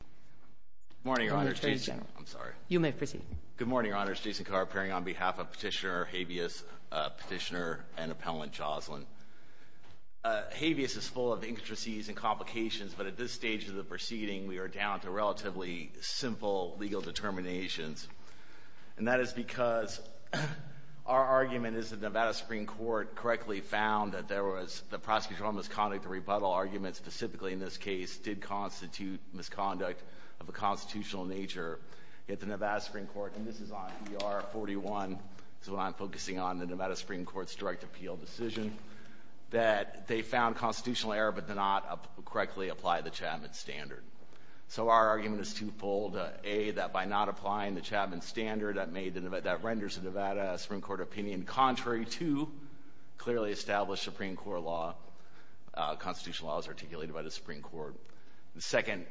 Good morning, Your Honor. Jason Carr, appearing on behalf of Petitioner Habeas, Petitioner and Appellant Joshlin. Habeas is full of intricacies and complications, but at this stage of the proceeding, we are down to relatively simple legal determinations. And that is because our argument is that the Nevada Supreme Court correctly found that the prosecutorial misconduct of the rebuttal argument, specifically in this case, did constitute misconduct of a constitutional nature. Yet the Nevada Supreme Court, and this is on ER 41, so I'm focusing on the Nevada Supreme Court's direct appeal decision, that they found constitutional error, but did not correctly apply the Chapman Standard. So our argument is twofold. A, that by not applying the Chapman Standard, that renders the Nevada Supreme Court opinion contrary to clearly established Supreme Court law. Constitutional law is articulated by the Supreme Court. The second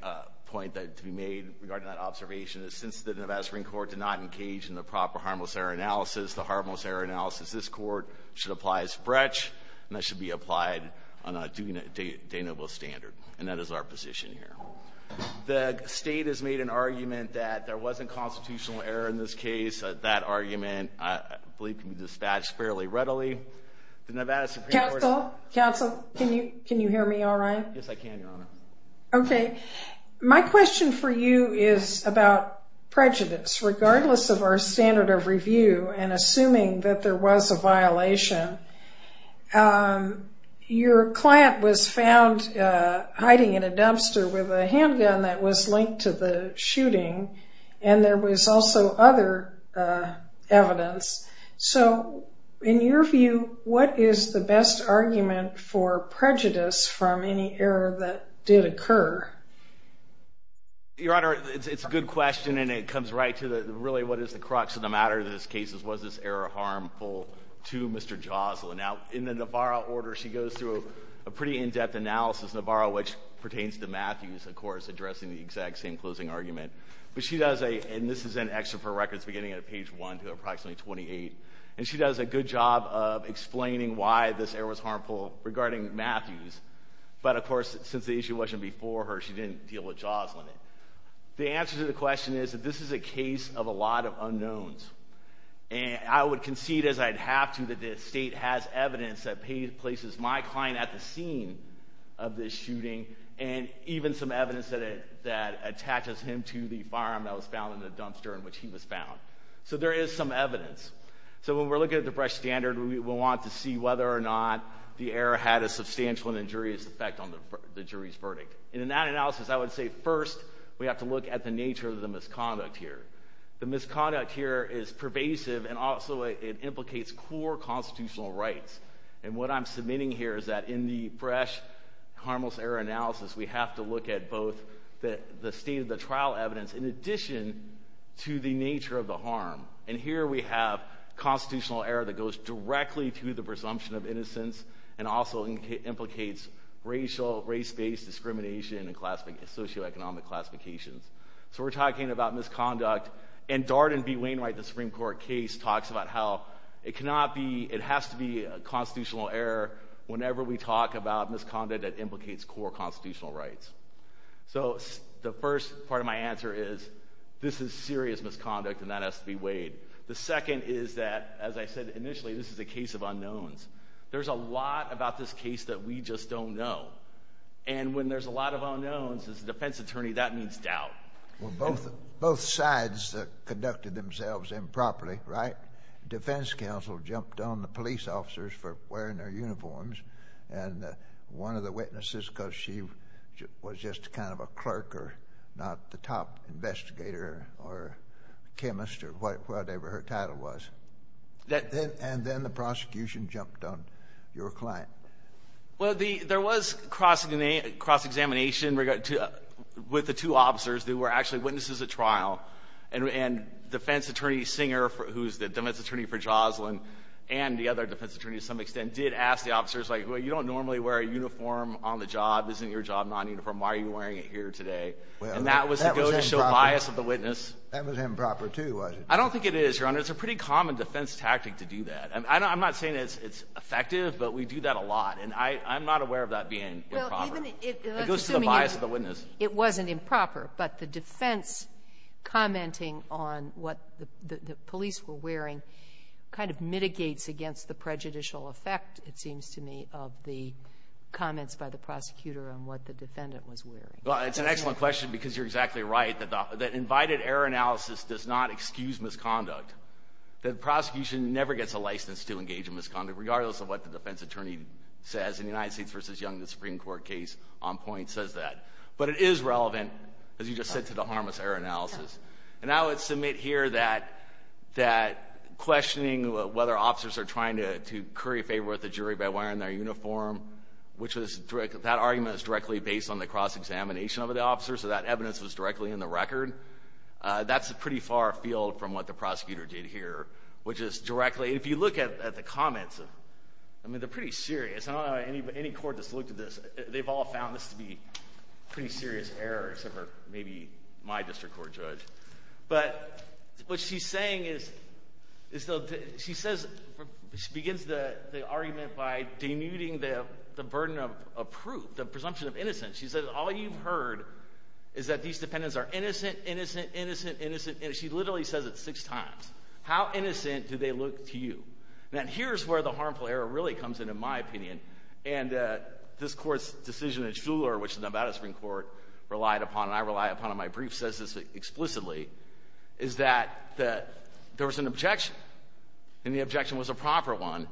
point to be made regarding that observation is since the Nevada Supreme Court did not engage in the proper harmless error analysis, the harmless error analysis this Court should apply as fretch, and that should be applied on a de nobis standard. And that is our position here. The State has made an argument that there wasn't constitutional error in this case. That argument, I believe, can be dispatched fairly readily. The Nevada Supreme Court... Counsel? Counsel? Can you hear me all right? Yes, I can, Your Honor. Okay. My question for you is about prejudice. Regardless of our standard of review and assuming that there was a violation, your client was found hiding in a dumpster with a handgun that was linked to the shooting, and there was also other evidence. So in your view, what is the best argument for prejudice from any error that did occur? Your Honor, it's a good question, and it comes right to really what is the crux of the matter of this case. Was this error harmful to Mr. Joslin? Now, in the Navarro order, she goes through a pretty in-depth analysis, Navarro, which pertains to Matthews, of course, addressing the exact same closing argument. But she does a... And this is in extra for records beginning at page 1 to approximately 28. And she does a good job of explaining why this error was harmful regarding Matthews. But, of course, since the issue wasn't before her, she didn't deal with Joslin. The answer to the question is that this is a case of a lot of unknowns. And I would concede, as I'd have to, that the State has evidence that places my client at the scene of this shooting and even some evidence that attaches him to the firearm that was found in the dumpster in which he was found. So there is some evidence. So when we're looking at the Brecht Standard, we'll want to see whether or not the error had a substantial and injurious effect on the jury's verdict. And in that analysis, I would say, first, we have to look at the core constitutional rights. And what I'm submitting here is that in the Brecht Harmless Error Analysis, we have to look at both the state of the trial evidence in addition to the nature of the harm. And here we have constitutional error that goes directly to the presumption of innocence and also implicates racial, race-based discrimination and socioeconomic classifications. So we're talking about misconduct. And Darden v. Wainwright, the Supreme Court case, talks about how it has to be a constitutional error whenever we talk about misconduct that implicates core constitutional rights. So the first part of my answer is, this is serious misconduct and that has to be weighed. The second is that, as I said initially, this is a case of unknowns. There's a lot about this case that we just don't know. And when there's a lot of unknowns, as a defense attorney, that means doubt. Well, both sides conducted themselves improperly, right? Defense counsel jumped on the police officers for wearing their uniforms. And one of the witnesses, because she was just kind of a clerk or not the top investigator or chemist or whatever her title was. And then the prosecution jumped on your client. Well, there was cross-examination with the two officers. They were actually witnesses at trial. And defense attorney Singer, who's the defense attorney for Jocelyn and the other defense attorney to some extent, did ask the officers, like, well, you don't normally wear a uniform on the job. Isn't your job non-uniform? Why are you wearing it here today? And that was to go to show bias of the witness. That was improper, too, was it? I don't think it is, Your Honor. It's a pretty common defense tactic to do that. I'm not saying it's effective, but we do that a lot. And I'm not aware of that being improper. It goes to the bias of the witness. It wasn't improper, but the defense commenting on what the police were wearing kind of mitigates against the prejudicial effect, it seems to me, of the comments by the prosecutor on what the defendant was wearing. Well, it's an excellent question, because you're exactly right, that invited error analysis does not excuse misconduct. The prosecution never gets a license to engage in misconduct, regardless of what the defense attorney says. In the United States v. Young, the Supreme Court case on point says that. But it is relevant, as you just said, to the harmless error analysis. And I would submit here that questioning whether officers are trying to curry favor with the jury by wearing their uniform, which was—that argument is directly based on the cross-examination of the officer, so that evidence was directly in the record. That's pretty far afield from what the prosecutor did here, which is directly—if you look at the comments, I mean, they're pretty serious. Any court that's looked at this, they've all found this to be pretty serious error, except for maybe my district court judge. But what she's saying is—she says—she begins the argument by denuding the burden of proof, with the presumption of innocence. She says, all you've heard is that these defendants are innocent, innocent, innocent, innocent, innocent. She literally says it six times. How innocent do they look to you? Now, here's where the harmful error really comes in, in my opinion. And this Court's decision in Shuler, which the Nevada Supreme Court relied upon, and I rely upon in my brief, says this explicitly, is that there was an objection, and the objection was a proper one,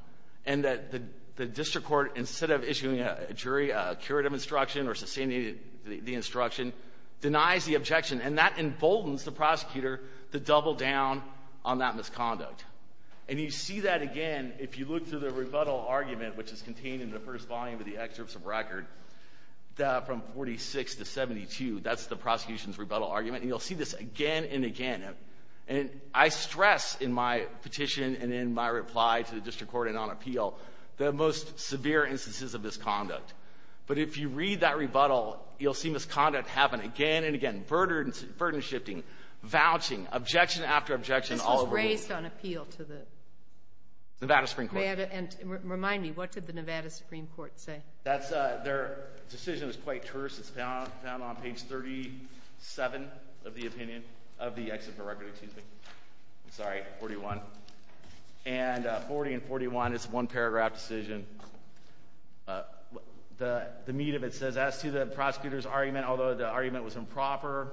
and that the district court, instead of issuing a jury a curative instruction or sustaining the instruction, denies the objection. And that emboldens the prosecutor to double down on that misconduct. And you see that again if you look through the rebuttal argument, which is contained in the first volume of the excerpts of record, from 46 to 72. That's the prosecution's rebuttal argument. And you'll see this again and again. And I stress in my petition and in my reply to the district court and on appeal, the most severe instances of misconduct. But if you read that rebuttal, you'll see misconduct happen again and again. Burden shifting, vouching, objection after objection all over the place. This was raised on appeal to the Nevada Supreme Court. Remind me, what did the Nevada Supreme Court say? Their decision is quite terse. It's found on page 37 of the opinion, of the excerpt from record, excuse me, I'm sorry, 41. And 40 and 41, it's a one paragraph decision. The meat of it says, as to the prosecutor's argument, although the argument was improper,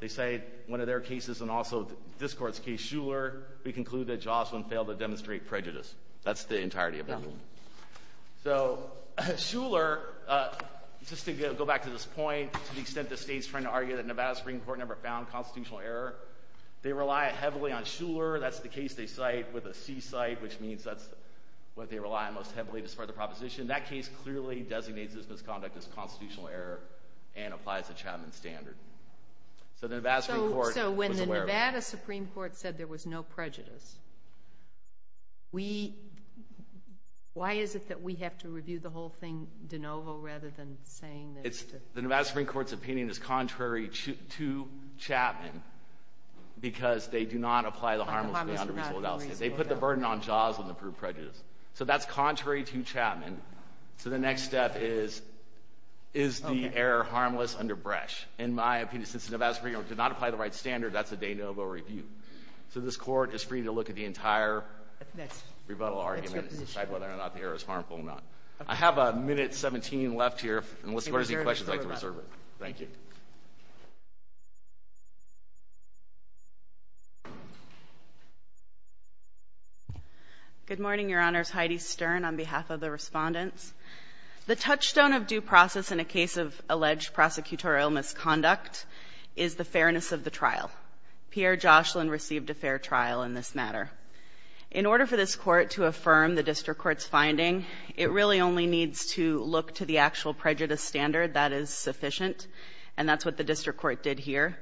they say one of their cases and also this court's case, Shuler, we conclude that Jocelyn failed to demonstrate prejudice. That's the entirety of it. So Shuler, just to go back to this point, to the extent the state's trying to argue that Nevada Supreme Court never found constitutional error, they rely heavily on Shuler, that's the case they cite, with a C-cite, which means that's what they rely on most heavily as part of the proposition. That case clearly designates this misconduct as constitutional error and applies the Chapman Standard. So the Nevada Supreme Court was aware of it. So when the Nevada Supreme Court said there was no prejudice, we, why is it that we have to review the whole thing de novo rather than saying that it's... The Nevada Supreme Court's opinion is contrary to Chapman because they do not apply the harmless and unreasonable analysis. They put the burden on Jocelyn to prove prejudice. So that's contrary to Chapman. So the next step is, is the error harmless under Bresch? In my opinion, since the Nevada Supreme Court did not apply the right standard, that's a de novo review. So this Court is free to look at the entire rebuttal argument and decide whether or not the error is harmful or not. I have a minute and 17 left here, and we'll see what other questions you'd like to reserve it. Thank you. Good morning, Your Honors. Heidi Stern on behalf of the Respondents. The touchstone of due process in a case of alleged prosecutorial misconduct is the fairness of the trial. Pierre Jocelyn received a fair trial in this matter. In order for this Court to affirm the district court's finding, it really only needs to look to the actual prejudice standard that is sufficient, and that's what the district court did here.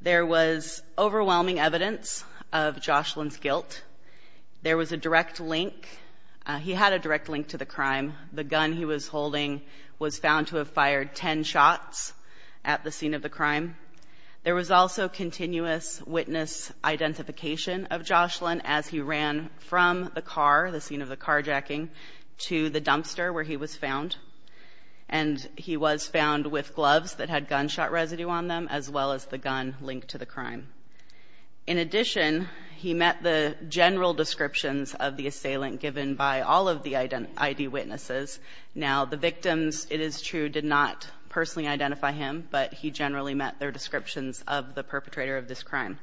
There was overwhelming evidence of Jocelyn's guilt. There was a direct link. He had a direct link to the crime. The gun he was holding was found to have fired ten shots at the scene of the crime. There was also continuous witness identification of Jocelyn as he ran from the car, the scene of the carjacking, to the dumpster where he was found. And he was found with gloves that had gunshot residue on them, as well as the gun linked to the crime. In addition, he met the general descriptions of the assailant given by all of the ID witnesses. Now, the victims, it is true, did not personally identify him, but he generally met their descriptions of the perpetrator of this crime.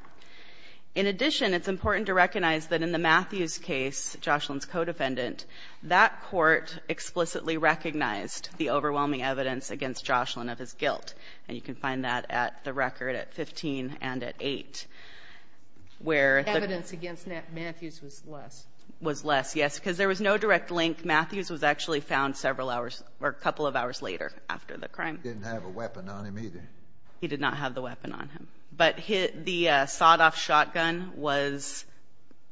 In addition, it's important to recognize that in the Matthews case, Jocelyn's co-defendant, that court explicitly recognized the overwhelming evidence against Jocelyn of his guilt. And you can find that at the record at 15 and at 8, where the ---- Sotomayor, evidence against Matthews was less. It was less, yes, because there was no direct link. Matthews was actually found several hours or a couple of hours later after the crime. He didn't have a weapon on him, either. He did not have the weapon on him. But the sawed-off shotgun was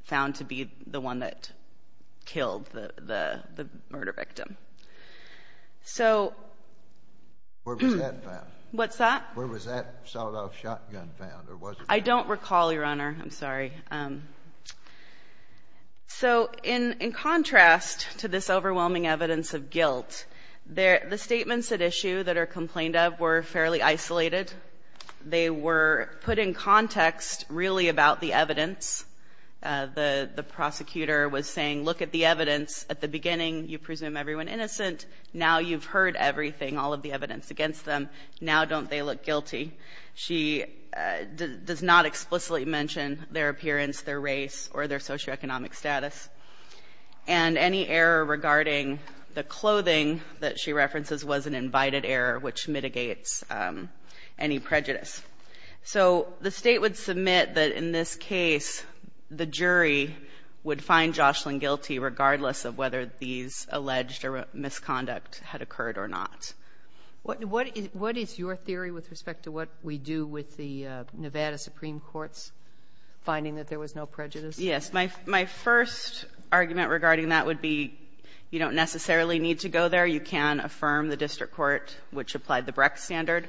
found to be the one that killed the murder victim. So ---- Where was that found? What's that? Where was that sawed-off shotgun found, or was it found? I don't recall, Your Honor. I'm sorry. So in contrast to this overwhelming evidence of guilt, the statements at issue that the prosecutor complained of were fairly isolated. They were put in context really about the evidence. The prosecutor was saying, look at the evidence. At the beginning, you presume everyone innocent. Now you've heard everything, all of the evidence against them. Now don't they look guilty? She does not explicitly mention their appearance, their race, or their socioeconomic status. And any error regarding the clothing that she references was an invited error, which mitigates any prejudice. So the State would submit that in this case, the jury would find Jocelyn guilty regardless of whether these alleged misconduct had occurred or not. What is your theory with respect to what we do with the Nevada Supreme Court's finding that there was no prejudice? Yes. My first argument regarding that would be you don't necessarily need to go there. You can affirm the district court, which applied the Brex standard,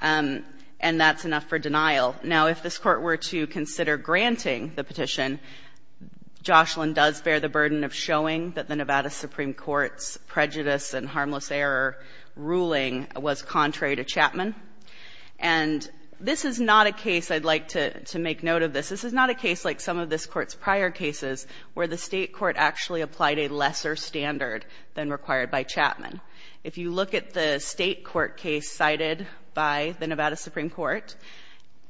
and that's enough for denial. Now, if this Court were to consider granting the petition, Jocelyn does bear the burden of showing that the Nevada Supreme Court's prejudice and harmless error ruling was contrary to Chapman. And this is not a case I'd like to make note of this. This is not a case like some of this Court's prior cases where the State court actually applied a lesser standard than required by Chapman. If you look at the State court case cited by the Nevada Supreme Court,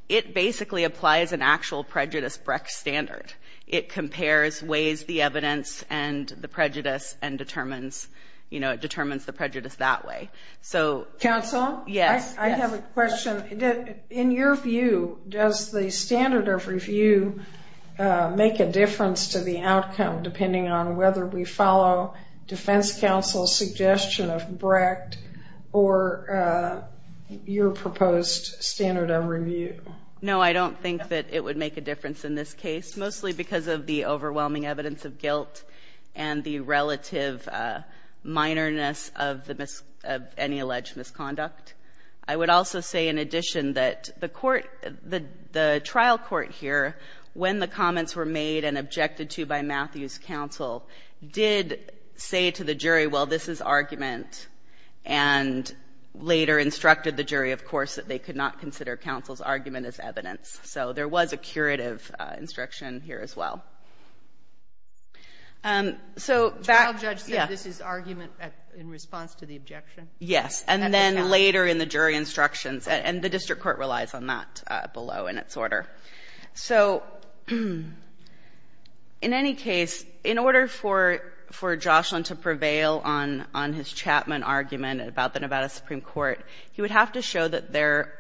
it basically applies an actual prejudice Brex standard. It compares ways the evidence and the prejudice and determines, you know, it determines the prejudice that way. So yes. Counsel? I have a question. In your view, does the standard of review make a difference to the outcome, depending on whether we follow defense counsel's suggestion of Brex or your proposed standard of review? No, I don't think that it would make a difference in this case, mostly because of the overwhelming evidence of guilt and the relative minoreness of any alleged misconduct. I would also say in addition that the court, the trial court here, when the comments were made and objected to by Matthew's counsel, did say to the jury, well, this is argument, and later instructed the jury, of course, that they could not consider counsel's argument as evidence. So there was a curative instruction here as well. So back to you. The trial judge said this is argument in response to the objection? Yes. And then later in the jury instructions, and the district court relies on that below in its order. So in any case, in order for Joshlin to prevail on his Chapman argument about the Nevada Supreme Court, he would have to show that their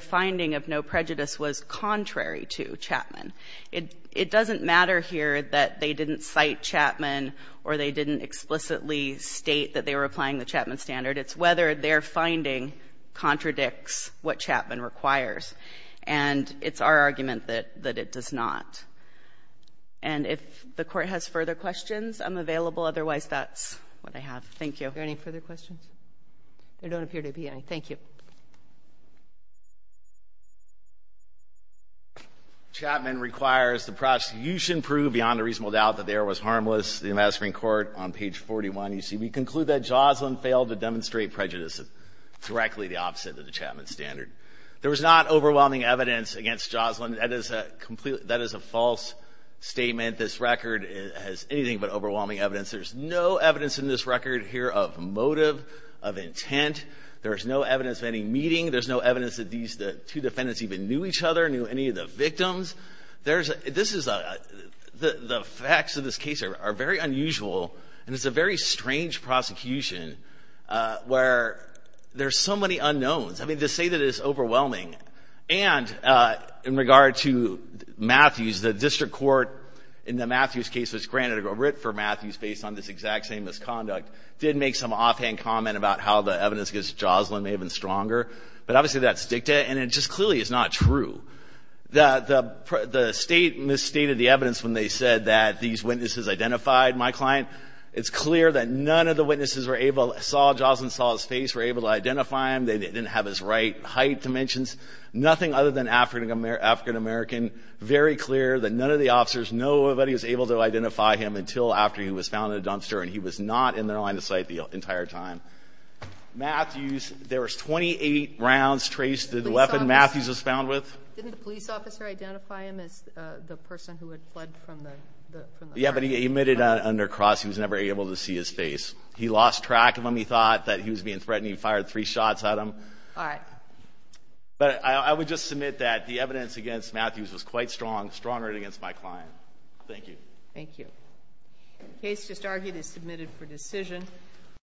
finding of no prejudice was contrary to Chapman. It doesn't matter here that they didn't cite Chapman or they didn't explicitly state that they were applying the Chapman standard. It's whether their finding contradicts what Chapman requires. And it's our argument that it does not. And if the Court has further questions, I'm available. Otherwise, that's what I have. Thank you. Are there any further questions? There don't appear to be any. Thank you. Chapman requires the prosecution prove beyond a reasonable doubt that the error was harmless. The Nevada Supreme Court on page 41, you see, we conclude that Joshlin failed to demonstrate prejudice directly the opposite of the Chapman standard. There was not overwhelming evidence against Joshlin. That is a false statement. This record has anything but overwhelming evidence. There's no evidence in this record here of motive, of intent. There's no evidence of any meeting. knew any of the victims. The facts of this case are very unusual, and it's a very strange prosecution where there's so many unknowns. I mean, to say that it's overwhelming. And in regard to Matthews, the district court in the Matthews case was granted a writ for Matthews based on this exact same misconduct, did make some offhand comment about how the evidence against Joshlin may have been stronger. But obviously, that's dicta, and it just clearly is not true. The state misstated the evidence when they said that these witnesses identified my client. It's clear that none of the witnesses saw Joshlin, saw his face, were able to identify him. They didn't have his right height dimensions. Nothing other than African-American. Very clear that none of the officers, nobody was able to identify him until after he was found in a dumpster, and he was not in their line of sight the entire time. Matthews, there was 28 rounds traced to the weapon Matthews was found with. Didn't the police officer identify him as the person who had fled from the crime scene? Yeah, but he admitted under cross he was never able to see his face. He lost track of him. He thought that he was being threatened. He fired three shots at him. All right. But I would just submit that the evidence against Matthews was quite strong, stronger than against my client. Thank you. Thank you. The case just argued is submitted for decision.